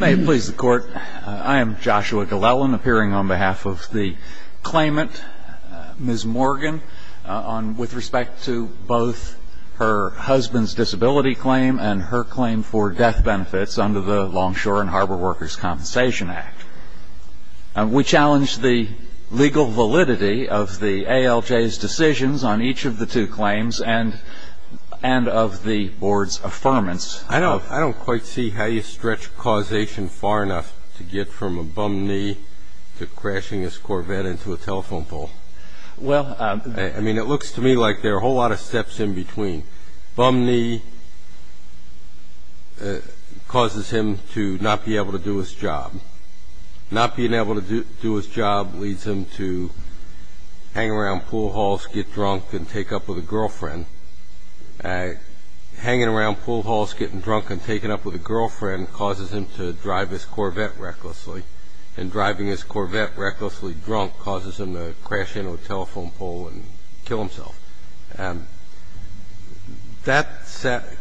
May it please the Court, I am Joshua Glellen, appearing on behalf of the claimant, Ms. Morgan, with respect to both her husband's disability claim and her claim for death benefits under the Longshore and Harbor Workers' Compensation Act. We challenge the legal validity of the ALJ's decisions on each of the two claims and of the Board's affirmance of I don't quite see how you stretch causation far enough to get from a bum knee to crashing his Corvette into a telephone pole. I mean, it looks to me like there are a whole lot of steps in between. Bum knee causes him to not be able to do his job. Not being able to do his job leads him to hang around pool halls, get drunk, and take up with a girlfriend. Hanging around pool halls, getting drunk, and taking up with a girlfriend causes him to drive his Corvette recklessly. And driving his Corvette recklessly drunk causes him to crash into a telephone pole and kill himself. That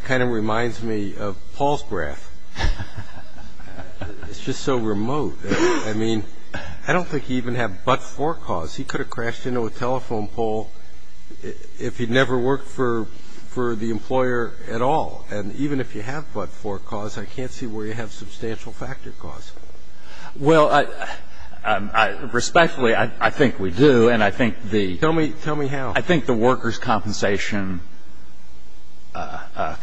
kind of reminds me of Paul's breath. It's just so remote. I mean, I don't think he even had but-for cause. He could have crashed into a telephone pole if he'd never worked for the employer at all. And even if you have but-for cause, I can't see where you have substantial factor cause. Well, respectfully, I think we do. And I think the ‑‑ Tell me how. I think the workers' compensation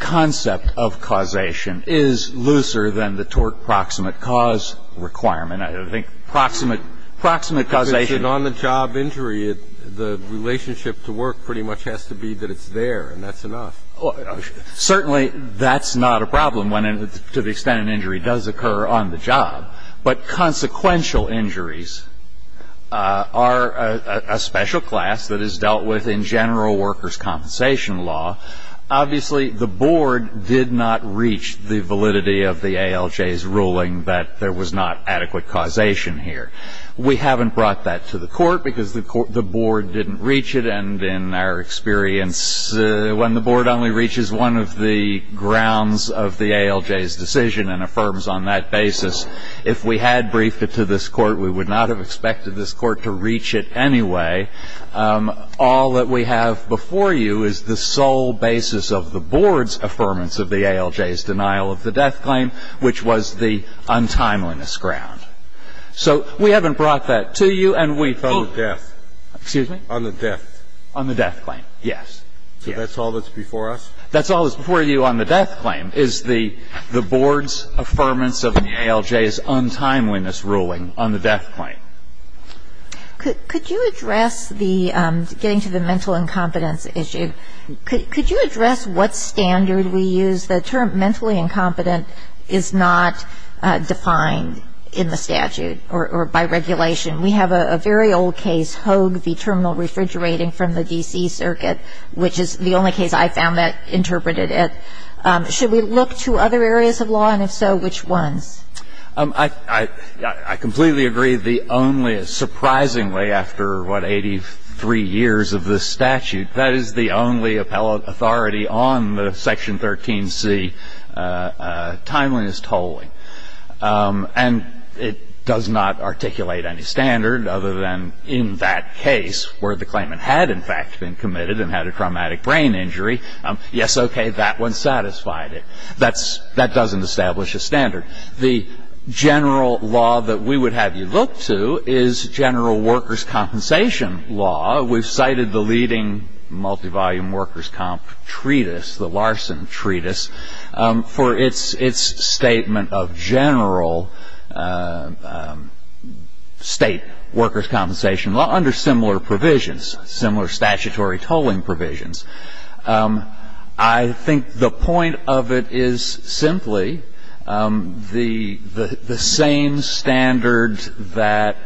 concept of causation is looser than the tort proximate cause requirement. I mean, I think proximate causation ‑‑ If it's an on-the-job injury, the relationship to work pretty much has to be that it's there, and that's enough. Certainly that's not a problem when, to the extent an injury does occur on the job. But consequential injuries are a special class that is dealt with in general workers' compensation law. Obviously, the board did not reach the validity of the ALJ's ruling that there was not adequate causation here. We haven't brought that to the court because the board didn't reach it. And in our experience, when the board only reaches one of the grounds of the ALJ's decision and affirms on that basis, if we had briefed it to this court, we would not have expected this court to reach it anyway. All that we have before you is the sole basis of the board's affirmance of the ALJ's denial of the death claim, which was the untimeliness ground. So we haven't brought that to you, and we ‑‑ On the death. Excuse me? On the death. On the death claim, yes. So that's all that's before us? That's all that's before you on the death claim is the board's affirmance of the ALJ's untimeliness ruling on the death claim. Could you address the ‑‑ getting to the mental incompetence issue, could you address what standard we use? The term mentally incompetent is not defined in the statute or by regulation. We have a very old case, Hogue v. Terminal Refrigerating from the D.C. Circuit, which is the only case I found that interpreted it. Should we look to other areas of law, and if so, which ones? I completely agree the only ‑‑ surprisingly, after, what, 83 years of this statute, that is the only appellate authority on the Section 13C timeliness tolling. And it does not articulate any standard other than in that case, where the claimant had in fact been committed and had a traumatic brain injury, yes, okay, that one satisfied it. That doesn't establish a standard. The general law that we would have you look to is general workers' compensation law. We've cited the leading multivolume workers' comp treatise, the Larson treatise, for its statement of general state workers' compensation law under similar provisions, similar statutory tolling provisions. I think the point of it is simply the same standard that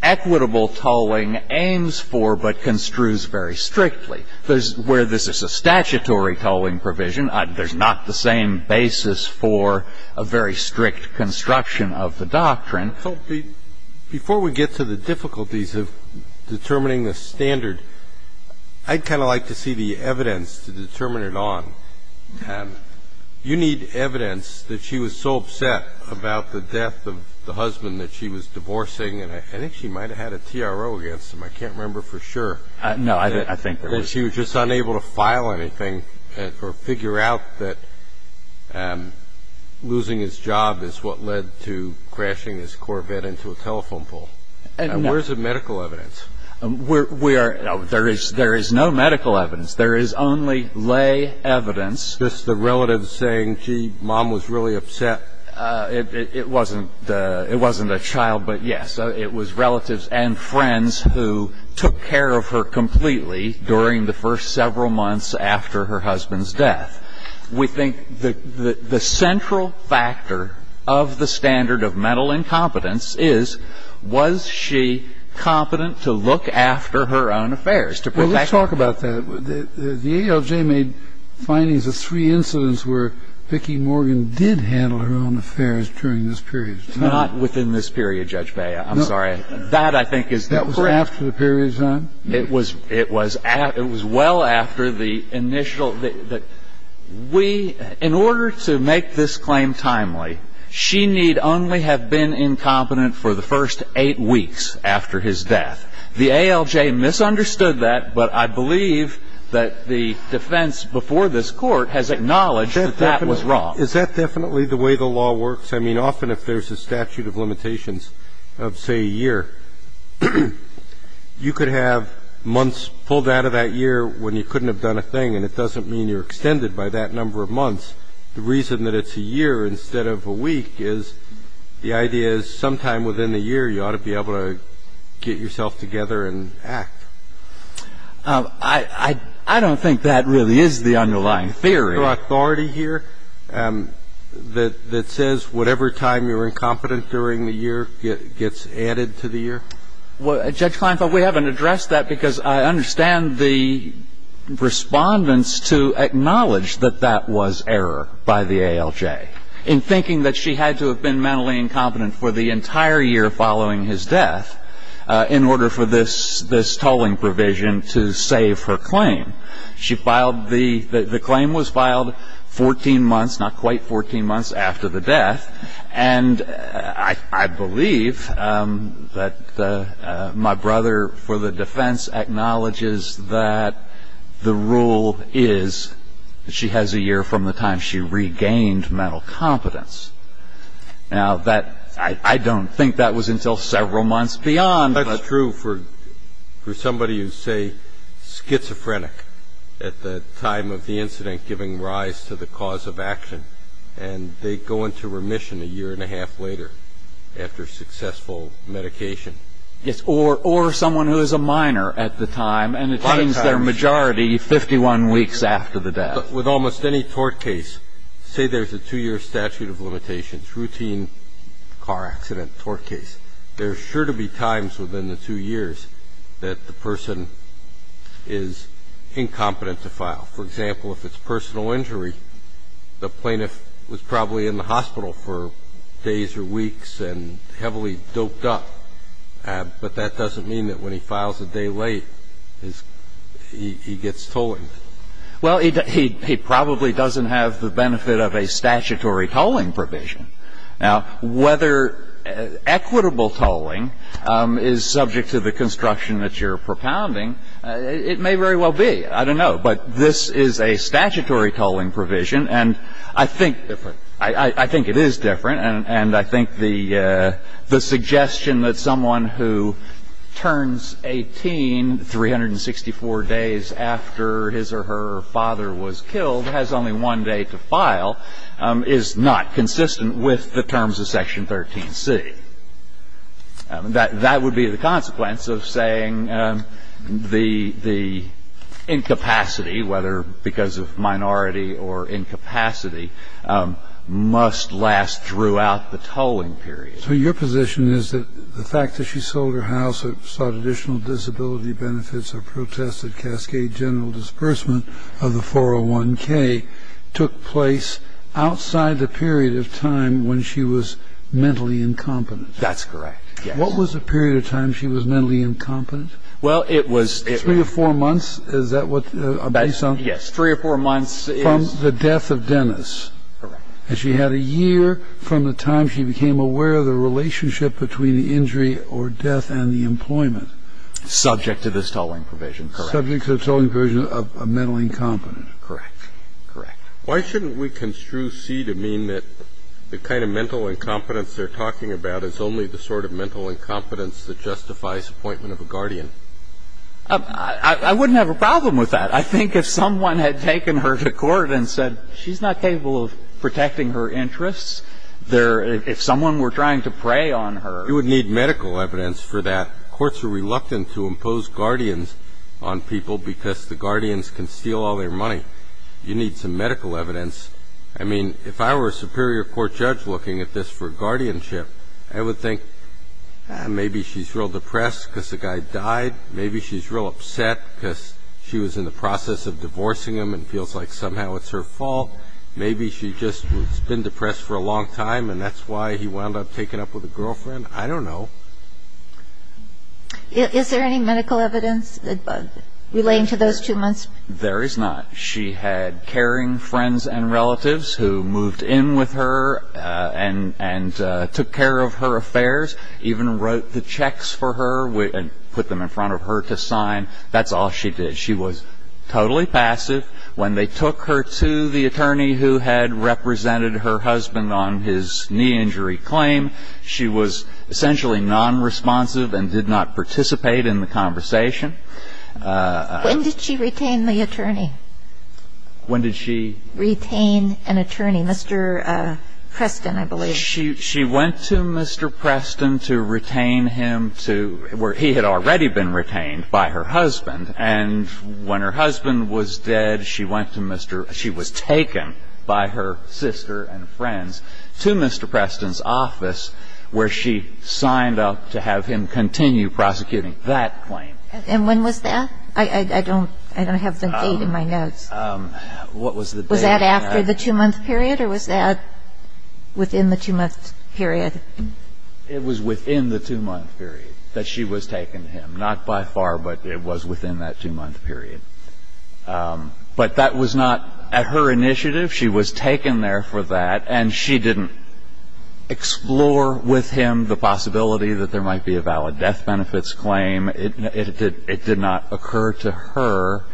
equitable tolling aims for but construes very strictly. Where this is a statutory tolling provision, there's not the same basis for a very strict construction of the doctrine. Before we get to the difficulties of determining the standard, I'd kind of like to see the evidence to determine it on. You need evidence that she was so upset about the death of the husband that she was divorcing. And I think she might have had a TRO against him. I can't remember for sure. No, I think there was. That she was just unable to file anything or figure out that losing his job is what led to crashing his car. And I think we can't do that. there's no evidence that she had covered up a single offense, and the court ran into a telephone pole. Now, where's the medical evidence? We are not going to do that. There is no medical evidence. There is only lay evidence. Just the relatives saying, gee, mom was really upset. It wasn't. It wasn't a child. But, yes, it was relatives and friends who took care of her completely during the first several months after her husband's death. We think the central factor of the standard of mental incompetence is, was she competent to look after her own affairs, to protect her? Well, let's talk about that. The ALJ made findings of three incidents where Vicki Morgan did handle her own affairs during this period. Not within this period, Judge Bea. I'm sorry. That, I think, is the correct one. That was after the period is done? It was well after the initial. We, in order to make this claim timely, she need only have been incompetent for the first eight weeks after his death. The ALJ misunderstood that, but I believe that the defense before this Court has acknowledged that that was wrong. Is that definitely the way the law works? I mean, often if there's a statute of limitations of, say, a year, you could have months pulled out of that year when you couldn't have done a thing, and it doesn't mean you're extended by that number of months. The reason that it's a year instead of a week is the idea is sometime within a year, you ought to be able to get yourself together and act. I don't think that really is the underlying theory. Is there another authority here that says whatever time you're incompetent during the year gets added to the year? Well, Judge Kleinfeld, we haven't addressed that because I understand the respondents to acknowledge that that was error by the ALJ in thinking that she had to have been mentally incompetent for the entire year following his death in order for this tolling provision to save her claim. She filed the – the claim was filed 14 months, not quite 14 months, after the death. And I believe that my brother for the defense acknowledges that the rule is that she has a year from the time she regained mental competence. Now, that – I don't think that was until several months beyond. That's true for somebody who's, say, schizophrenic at the time of the incident, giving rise to the cause of action. And they go into remission a year and a half later after successful medication. Yes, or someone who is a minor at the time and attains their majority 51 weeks after the death. With almost any tort case, say there's a two-year statute of limitations, it's routine car accident, tort case. There are sure to be times within the two years that the person is incompetent to file. For example, if it's personal injury, the plaintiff was probably in the hospital for days or weeks and heavily doped up. But that doesn't mean that when he files a day late, he gets tolling. Well, he probably doesn't have the benefit of a statutory tolling provision. Now, whether equitable tolling is subject to the construction that you're propounding, it may very well be. I don't know. But this is a statutory tolling provision, and I think it is different. And I think the suggestion that someone who turns 18 364 days after his or her father was killed has only one day to file is not consistent with the terms of Section 13C. That would be the consequence of saying the incapacity, whether because of minority or incapacity, must last throughout the tolling period. So your position is that the fact that she sold her house and sought additional disability benefits or protested cascade general disbursement of the 401K took place outside the period of time when she was mentally incompetent? That's correct. What was the period of time she was mentally incompetent? Well, it was three or four months. Is that what you're saying? Yes, three or four months. From the death of Dennis. Correct. And she had a year from the time she became aware of the relationship between the injury or death and the employment. Subject to this tolling provision. Correct. Subject to this tolling provision of mental incompetence. Correct. Correct. Why shouldn't we construe C to mean that the kind of mental incompetence they're talking about is only the sort of mental incompetence that justifies appointment of a guardian? I wouldn't have a problem with that. I think if someone had taken her to court and said she's not capable of protecting her interests, if someone were trying to prey on her. You would need medical evidence for that. Courts are reluctant to impose guardians on people because the guardians can steal all their money. You need some medical evidence. I mean, if I were a superior court judge looking at this for guardianship, I would think maybe she's real depressed because the guy died. Maybe she's real upset because she was in the process of divorcing him and feels like somehow it's her fault. Maybe she just has been depressed for a long time and that's why he wound up taking up with a girlfriend. I don't know. Is there any medical evidence relating to those two months? There is not. She had caring friends and relatives who moved in with her and took care of her affairs, even wrote the checks for her and put them in front of her to sign. That's all she did. She was totally passive. When they took her to the attorney who had represented her husband on his knee injury claim, she was essentially nonresponsive and did not participate in the conversation. When did she retain the attorney? When did she? Retain an attorney, Mr. Preston, I believe. She went to Mr. Preston to retain him to where he had already been retained by her husband. And when her husband was dead, she was taken by her sister and friends to Mr. Preston's office where she signed up to have him continue prosecuting that claim. And when was that? I don't have the date in my notes. What was the date? Was that after the two-month period or was that within the two-month period? It was within the two-month period that she was taken him. Not by far, but it was within that two-month period. But that was not at her initiative. She was taken there for that. And she didn't explore with him the possibility that there might be a valid death benefits claim. It did not occur to her.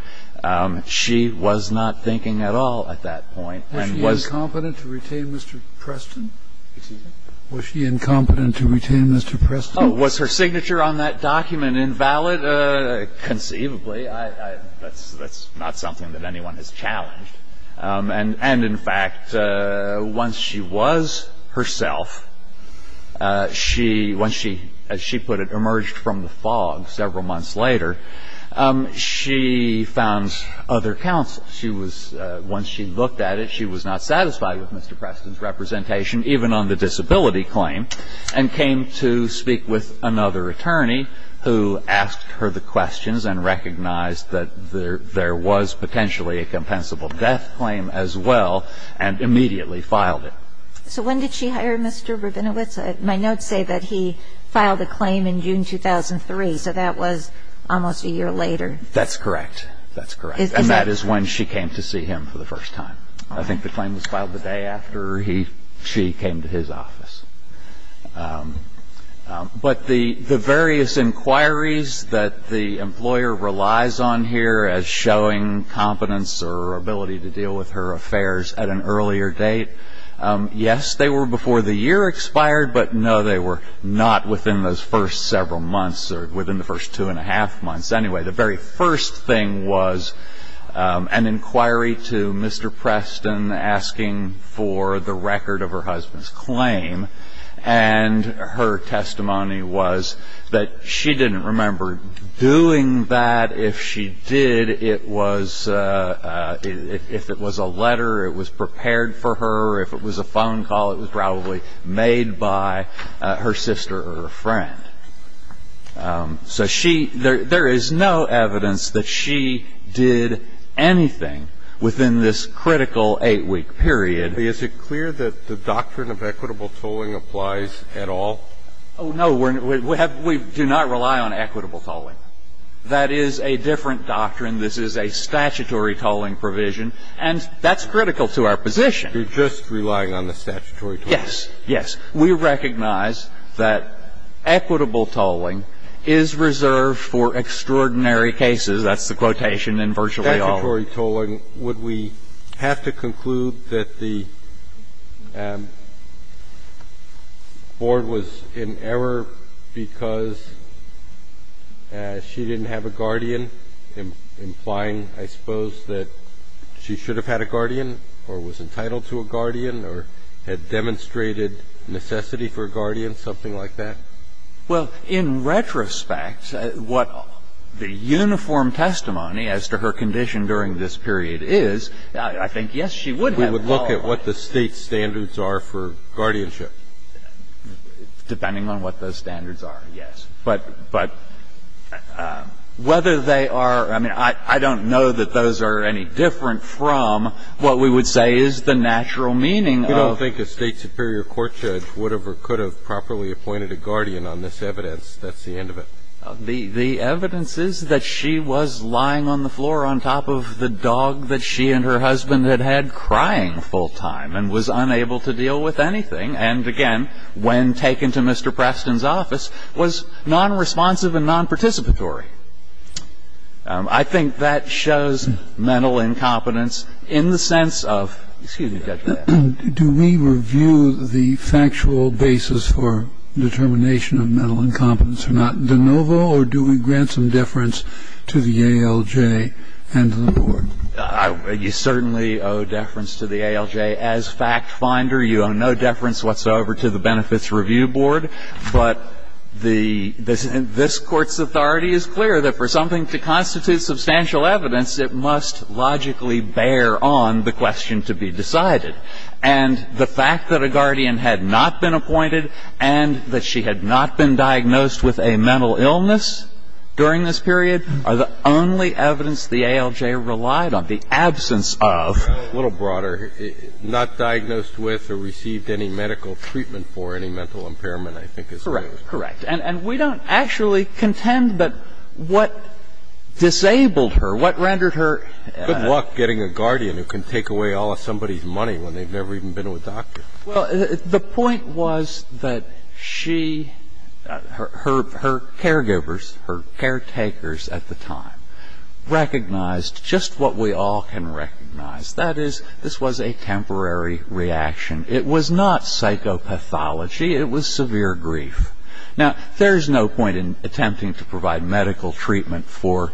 She was not thinking at all at that point. Was she incompetent to retain Mr. Preston? Excuse me? Was she incompetent to retain Mr. Preston? Was her signature on that document invalid? Conceivably. That's not something that anyone has challenged. And in fact, once she was herself, she – once she, as she put it, emerged from the fog several months later, she found other counsel. She was – once she looked at it, she was not satisfied with Mr. Preston's representation, even on the disability claim, and came to speak with another attorney who asked her the questions and recognized that there was potentially a compensable death claim as well and immediately filed it. So when did she hire Mr. Rabinowitz? My notes say that he filed the claim in June 2003. So that was almost a year later. That's correct. That's correct. And that is when she came to see him for the first time. I think the claim was filed the day after he – she came to his office. But the various inquiries that the employer relies on here as showing competence or ability to deal with her affairs at an earlier date, yes, they were before the year expired, but no, they were not within those first several months or within the first two and a half months. Anyway, the very first thing was an inquiry to Mr. Preston asking for the record of her husband's claim. And her testimony was that she didn't remember doing that. If she did, it was – if it was a letter, it was prepared for her. If it was a phone call, it was probably made by her sister or a friend. So she – there is no evidence that she did anything within this critical eight-week period. Is it clear that the doctrine of equitable tolling applies at all? Oh, no. We have – we do not rely on equitable tolling. That is a different doctrine. This is a statutory tolling provision. And that's critical to our position. You're just relying on the statutory tolling. Yes. Yes. We recognize that equitable tolling is reserved for extraordinary cases. That's the quotation in virtually all. Statutory tolling. Would we have to conclude that the Board was in error because she didn't have a guardian, implying, I suppose, that she should have had a guardian or was entitled to a guardian or had demonstrated necessity for a guardian, something like that? Well, in retrospect, what the uniform testimony as to her condition during this period is, I think, yes, she would have qualified. We would look at what the State standards are for guardianship. Depending on what those standards are, yes. But whether they are – I mean, I don't know that those are any different from what we would say is the natural meaning of – You don't think a State superior court judge would have or could have properly appointed a guardian on this evidence. That's the end of it. The evidence is that she was lying on the floor on top of the dog that she and her husband had had crying full time and was unable to deal with anything and, again, when taken to Mr. Preston's office, was nonresponsive and nonparticipatory. I think that shows mental incompetence in the sense of – excuse me, Judge Mayotte. Do we review the factual basis for determination of mental incompetence or not de novo or do we grant some deference to the ALJ and to the Board? You certainly owe deference to the ALJ. As fact finder, you owe no deference whatsoever to the Benefits Review Board. But the – this Court's authority is clear that for something to constitute substantial evidence, it must logically bear on the question to be decided. And the fact that a guardian had not been appointed and that she had not been diagnosed with a mental illness during this period are the only evidence the ALJ relied on. The absence of – A little broader. Not diagnosed with or received any medical treatment for any mental impairment, I think is – Correct. Correct. And we don't actually contend that what disabled her, what rendered her – Good luck getting a guardian who can take away all of somebody's money when they've never even been to a doctor. Well, the point was that she – her caregivers, her caretakers at the time, recognized just what we all can recognize. That is, this was a temporary reaction. It was not psychopathology. It was severe grief. Now, there's no point in attempting to provide medical treatment for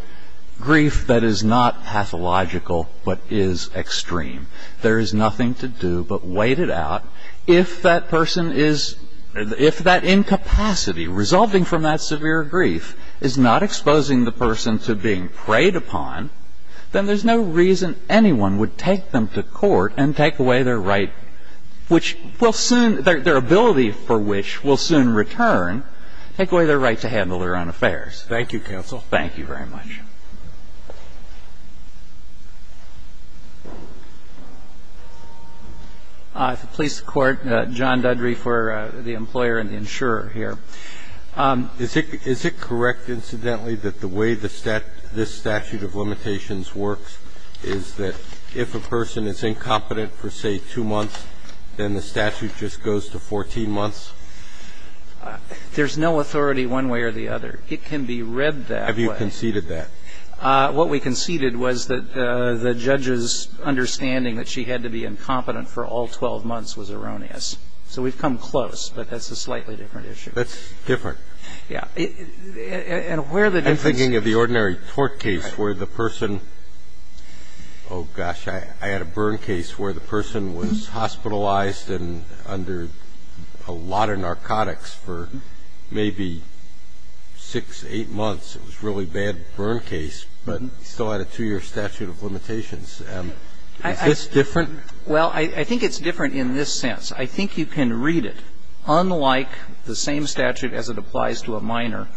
grief that is not pathological but is extreme. There is nothing to do but wait it out. If that person is – if that incapacity resulting from that severe grief is not exposing the person to being preyed upon, then there's no reason anyone would take them to court and take away their right, which will soon – their ability for which will soon return, take away their right to handle their own affairs. Thank you, counsel. Thank you very much. The police court, John Dudry for the employer and the insurer here. Is it correct, incidentally, that the way the statute – this statute of limitations works is that if a person is incompetent for, say, two months, then the statute just goes to 14 months? There's no authority one way or the other. It can be read that way. Have you conceded that? What we conceded was that the judge's understanding that she had to be incompetent for all 12 months was erroneous. So we've come close, but that's a slightly different issue. That's different. Yeah. And where the difference – I'm thinking of the ordinary tort case where the person – oh, gosh, I had a burn case where the person was hospitalized under a lot of narcotics for maybe six, eight months. It was a really bad burn case, but still had a two-year statute of limitations. Is this different? Well, I think it's different in this sense. I think you can read it unlike the same statute as it applies to a minor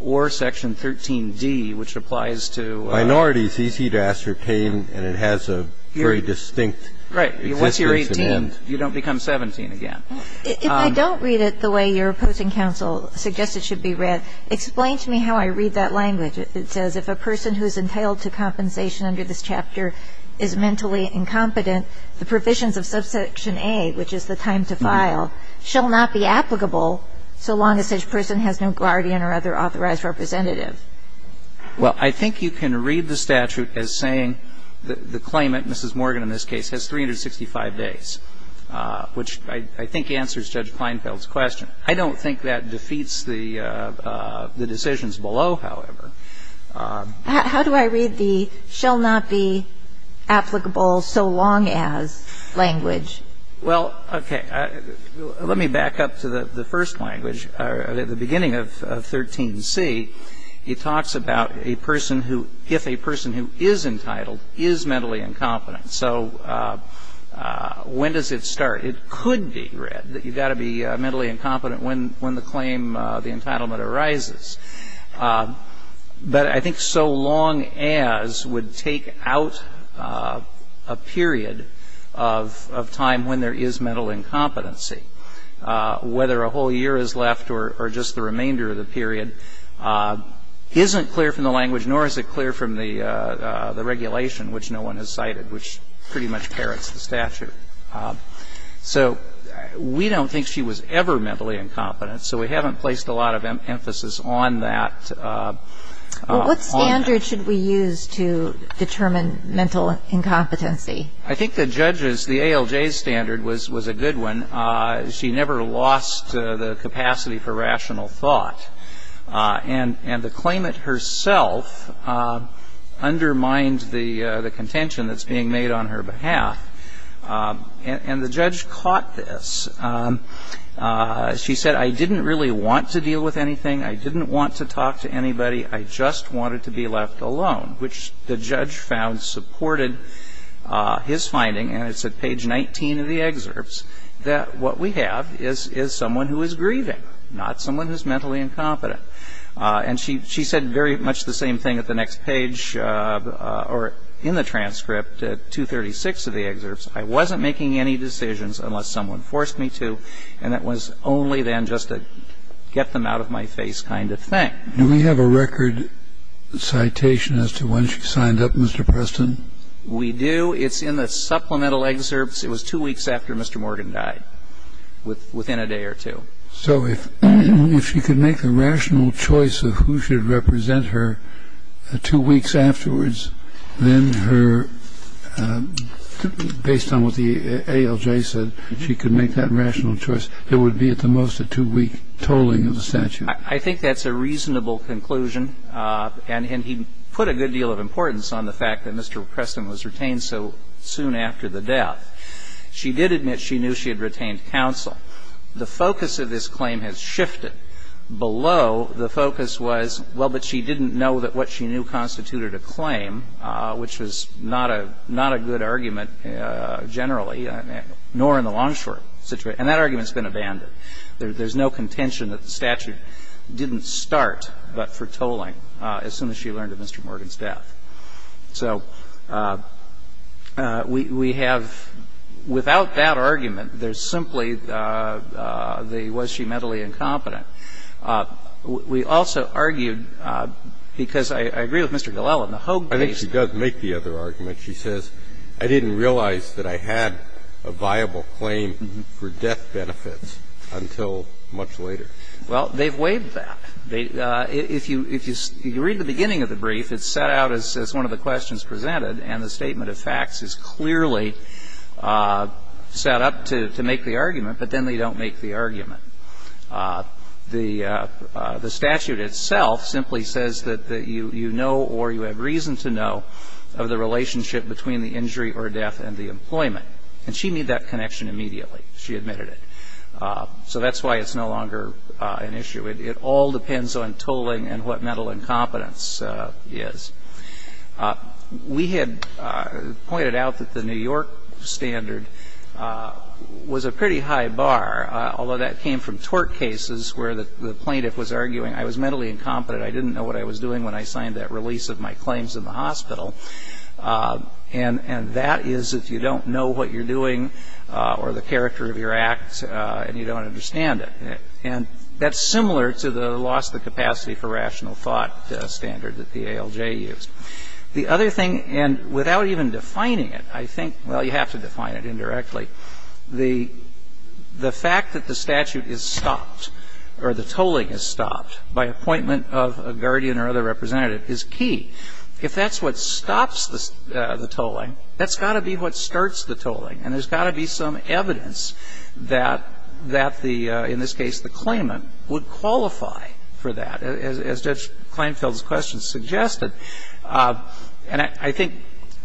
or Section 13d, which applies to – Minority is easy to ascertain, and it has a very distinct existence. Right. Once you're 18, you don't become 17 again. If I don't read it the way your opposing counsel suggests it should be read, explain to me how I read that language. It says if a person who is entitled to compensation under this chapter is mentally incompetent, the provisions of Subsection A, which is the time to file, shall not be applicable so long as such person has no guardian or other authorized representative. Well, I think you can read the statute as saying the claimant, Mrs. Morgan in this case, has 365 days, which I think answers Judge Kleinfeld's question. How do I read the shall not be applicable so long as language? Well, okay. Let me back up to the first language. At the beginning of 13c, it talks about a person who – if a person who is entitled is mentally incompetent. So when does it start? It could be read that you've got to be mentally incompetent when the claim, the entitlement arises. But I think so long as would take out a period of time when there is mental incompetency. Whether a whole year is left or just the remainder of the period isn't clear from the language, nor is it clear from the regulation, which no one has cited, which pretty much parrots the statute. So we don't think she was ever mentally incompetent, so we haven't placed a lot of emphasis on that. What standard should we use to determine mental incompetency? I think the judge's, the ALJ's standard was a good one. She never lost the capacity for rational thought. And the claimant herself undermined the contention that's being made on her behalf. And the judge caught this. She said, I didn't really want to deal with anything. I didn't want to talk to anybody. I just wanted to be left alone. Which the judge found supported his finding, and it's at page 19 of the excerpts, that what we have is someone who is grieving, not someone who is mentally incompetent. And she said very much the same thing at the next page, or in the transcript at 236 of the excerpts. I wasn't making any decisions unless someone forced me to, and that was only then just a get-them-out-of-my-face kind of thing. Do we have a record citation as to when she signed up, Mr. Preston? We do. It's in the supplemental excerpts. It was two weeks after Mr. Morgan died, within a day or two. So if she could make a rational choice of who should represent her two weeks afterwards, then her, based on what the ALJ said, if she could make that rational choice, it would be at the most a two-week tolling of the statute. I think that's a reasonable conclusion, and he put a good deal of importance on the fact that Mr. Preston was retained so soon after the death. She did admit she knew she had retained counsel. The focus of this claim has shifted. Below, the focus was, well, but she didn't know that what she knew constituted a claim, which was not a good argument generally, nor in the long-short situation. And that argument's been abandoned. There's no contention that the statute didn't start but for tolling as soon as she learned of Mr. Morgan's death. So we have, without that argument, there's simply the was she mentally incompetent We also argued, because I agree with Mr. Gillelan, the Hogue case. I think she does make the other argument. She says, I didn't realize that I had a viable claim for death benefits until much later. Well, they've waived that. If you read the beginning of the brief, it's set out as one of the questions presented, and the statement of facts is clearly set up to make the argument, but then they don't make the argument. The statute itself simply says that you know or you have reason to know of the relationship between the injury or death and the employment. And she made that connection immediately. She admitted it. So that's why it's no longer an issue. It all depends on tolling and what mental incompetence is. We had pointed out that the New York standard was a pretty high bar, although that came from tort cases where the plaintiff was arguing, I was mentally incompetent. I didn't know what I was doing when I signed that release of my claims in the hospital. And that is if you don't know what you're doing or the character of your act and you don't understand it. And that's similar to the loss of the capacity for rational thought standard that the ALJ used. The other thing, and without even defining it, I think, well, you have to define it indirectly. The fact that the statute is stopped or the tolling is stopped by appointment of a guardian or other representative is key. If that's what stops the tolling, that's got to be what starts the tolling. And there's got to be some evidence that the, in this case, the claimant would qualify for that, as Judge Kleinfeld's question suggested. And I think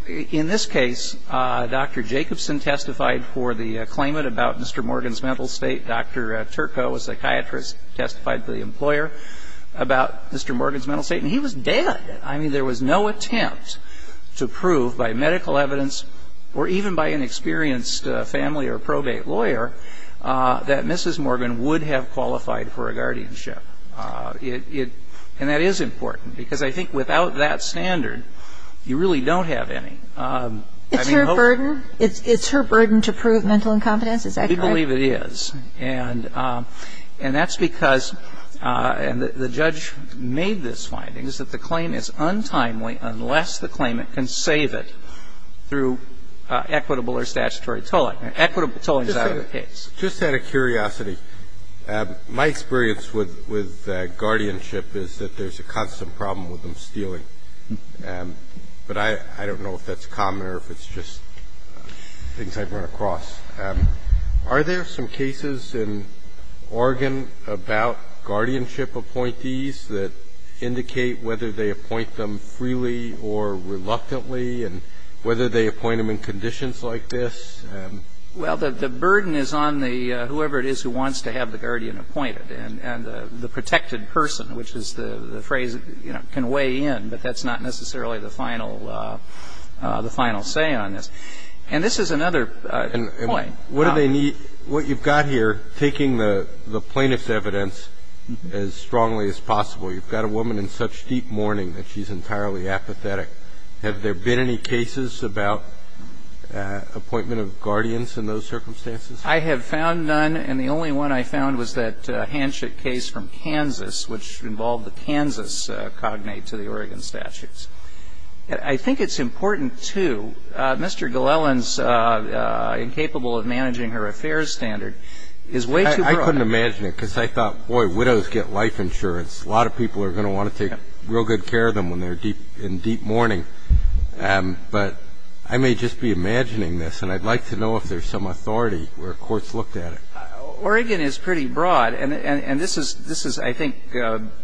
in this case, Dr. Jacobson testified for the claimant about Mr. Morgan's mental state. Dr. Turco, a psychiatrist, testified for the employer about Mr. Morgan's mental state. And he was dead. I mean, there was no attempt to prove by medical evidence or even by an experienced family or probate lawyer that Mrs. Morgan would have qualified for a guardianship. And that is important, because I think without that standard, you really don't have any. I mean, hopefully. It's her burden? It's her burden to prove mental incompetence? Is that correct? We believe it is. And that's because, and the judge made this finding, is that the claim is untimely unless the claimant can save it through equitable or statutory tolling. Equitable tolling is out of the case. Just out of curiosity, my experience with guardianship is that there's a constant problem with them stealing. But I don't know if that's common or if it's just things I've run across. Are there some cases in Oregon about guardianship appointees that indicate whether they appoint them freely or reluctantly and whether they appoint them in conditions like this? Well, the burden is on the whoever it is who wants to have the guardian appointed and the protected person, which is the phrase that can weigh in. But that's not necessarily the final say on this. And this is another point. What do they need? What you've got here, taking the plaintiff's evidence as strongly as possible, you've got a woman in such deep mourning that she's entirely apathetic. Have there been any cases about appointment of guardians in those circumstances? I have found none. And the only one I found was that Hanchett case from Kansas, which involved the Kansas cognate to the Oregon statutes. I think it's important, too. Mr. Glellan's incapable of managing her affairs standard is way too broad. I couldn't imagine it, because I thought, boy, widows get life insurance. A lot of people are going to want to take real good care of them when they're in deep mourning. But I may just be imagining this, and I'd like to know if there's some authority where courts looked at it. Oregon is pretty broad. And this is, I think,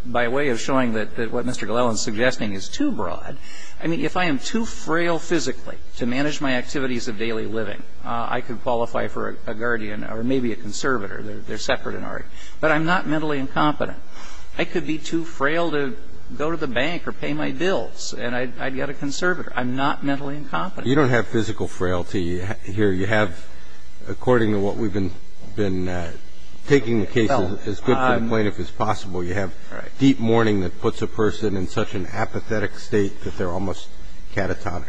by way of showing that what Mr. Glellan's suggesting is too broad. I mean, if I am too frail physically to manage my activities of daily living, I could qualify for a guardian or maybe a conservator. They're separate in Oregon. But I'm not mentally incompetent. I could be too frail to go to the bank or pay my bills, and I'd get a conservator. I'm not mentally incompetent. You don't have physical frailty here. You have, according to what we've been taking the case as good for the plaintiff as possible, you have deep mourning that puts a person in such an apathetic state that they're almost catatonic.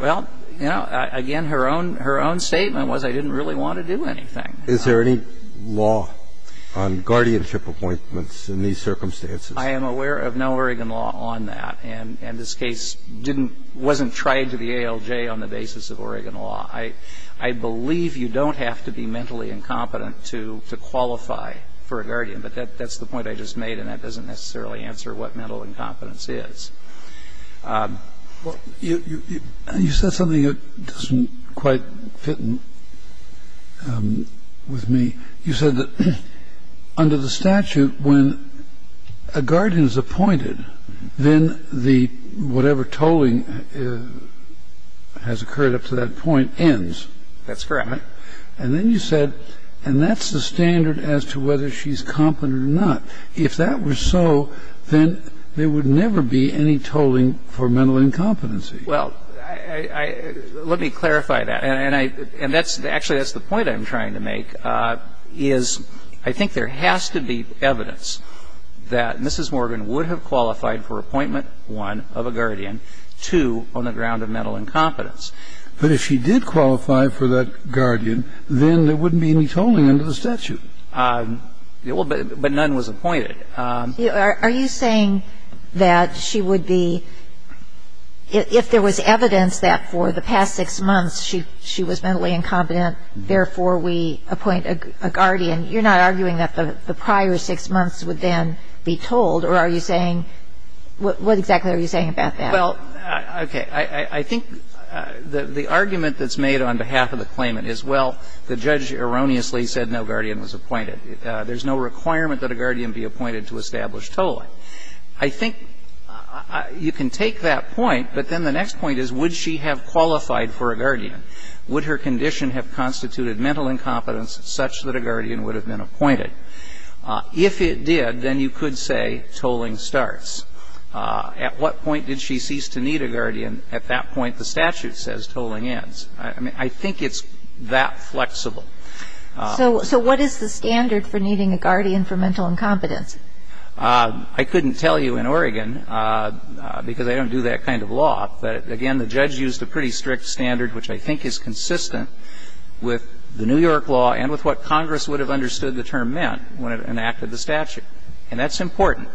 Well, you know, again, her own statement was I didn't really want to do anything. Is there any law on guardianship appointments in these circumstances? I am aware of no Oregon law on that. And this case didn't – wasn't tried to the ALJ on the basis of Oregon law. I believe you don't have to be mentally incompetent to qualify for a guardian, but that's the point I just made, and that doesn't necessarily answer what mental incompetence is. You said something that doesn't quite fit with me. You said that under the statute, when a guardian is appointed, then the – whatever tolling has occurred up to that point ends. That's correct. And then you said, and that's the standard as to whether she's competent or not. If that were so, then there would never be any tolling for mental incompetency. Well, I – let me clarify that. And I – and that's – actually, that's the point I'm trying to make is I think there has to be evidence that Mrs. Morgan would have qualified for appointment one of a guardian, two on the ground of mental incompetence. But if she did qualify for that guardian, then there wouldn't be any tolling under the statute. Well, but none was appointed. Are you saying that she would be – if there was evidence that for the past six months she was mentally incompetent, therefore we appoint a guardian, you're not arguing that the prior six months would then be tolled, or are you saying – what exactly are you saying about that? Well, okay. I think the argument that's made on behalf of the claimant is, well, the judge erroneously said no guardian was appointed. There's no requirement that a guardian be appointed to establish tolling. I think you can take that point, but then the next point is would she have qualified for a guardian? Would her condition have constituted mental incompetence such that a guardian would have been appointed? If it did, then you could say tolling starts. At what point did she cease to need a guardian? At that point the statute says tolling ends. I mean, I think it's that flexible. So what is the standard for needing a guardian for mental incompetence? I couldn't tell you in Oregon, because I don't do that kind of law, but, again, the judge used a pretty strict standard, which I think is consistent with the New York law and with what Congress would have understood the term meant when it enacted the statute, and that's important.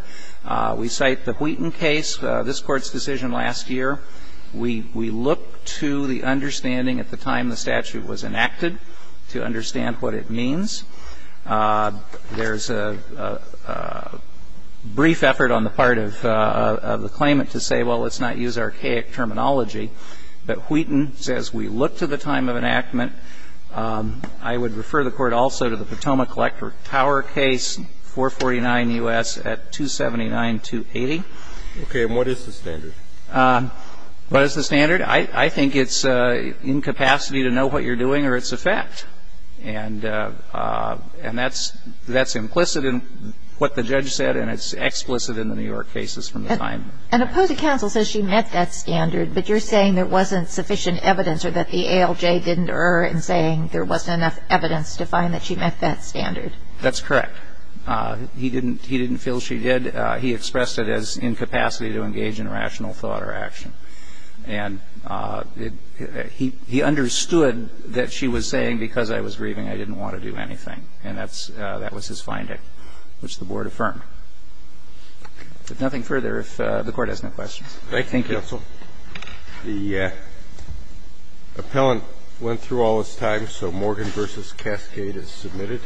We cite the Wheaton case, this Court's decision last year. We look to the understanding at the time the statute was enacted to understand what it means. There's a brief effort on the part of the claimant to say, well, let's not use archaic terminology. But Wheaton says we look to the time of enactment. I would refer the Court also to the Potomac Collector Tower case, 449 U.S. at 279-280. Okay. And what is the standard? What is the standard? I think it's incapacity to know what you're doing or it's a fact. And that's implicit in what the judge said and it's explicit in the New York cases from the time. An opposed counsel says she met that standard, but you're saying there wasn't sufficient evidence or that the ALJ didn't err in saying there wasn't enough evidence to find that she met that standard. That's correct. He didn't feel she did. And he expressed it as incapacity to engage in rational thought or action. And he understood that she was saying because I was grieving, I didn't want to do anything. And that's his finding, which the Board affirmed. If nothing further, if the Court has no questions. Thank you, counsel. The appellant went through all his time, so Morgan v. Cascade is submitted.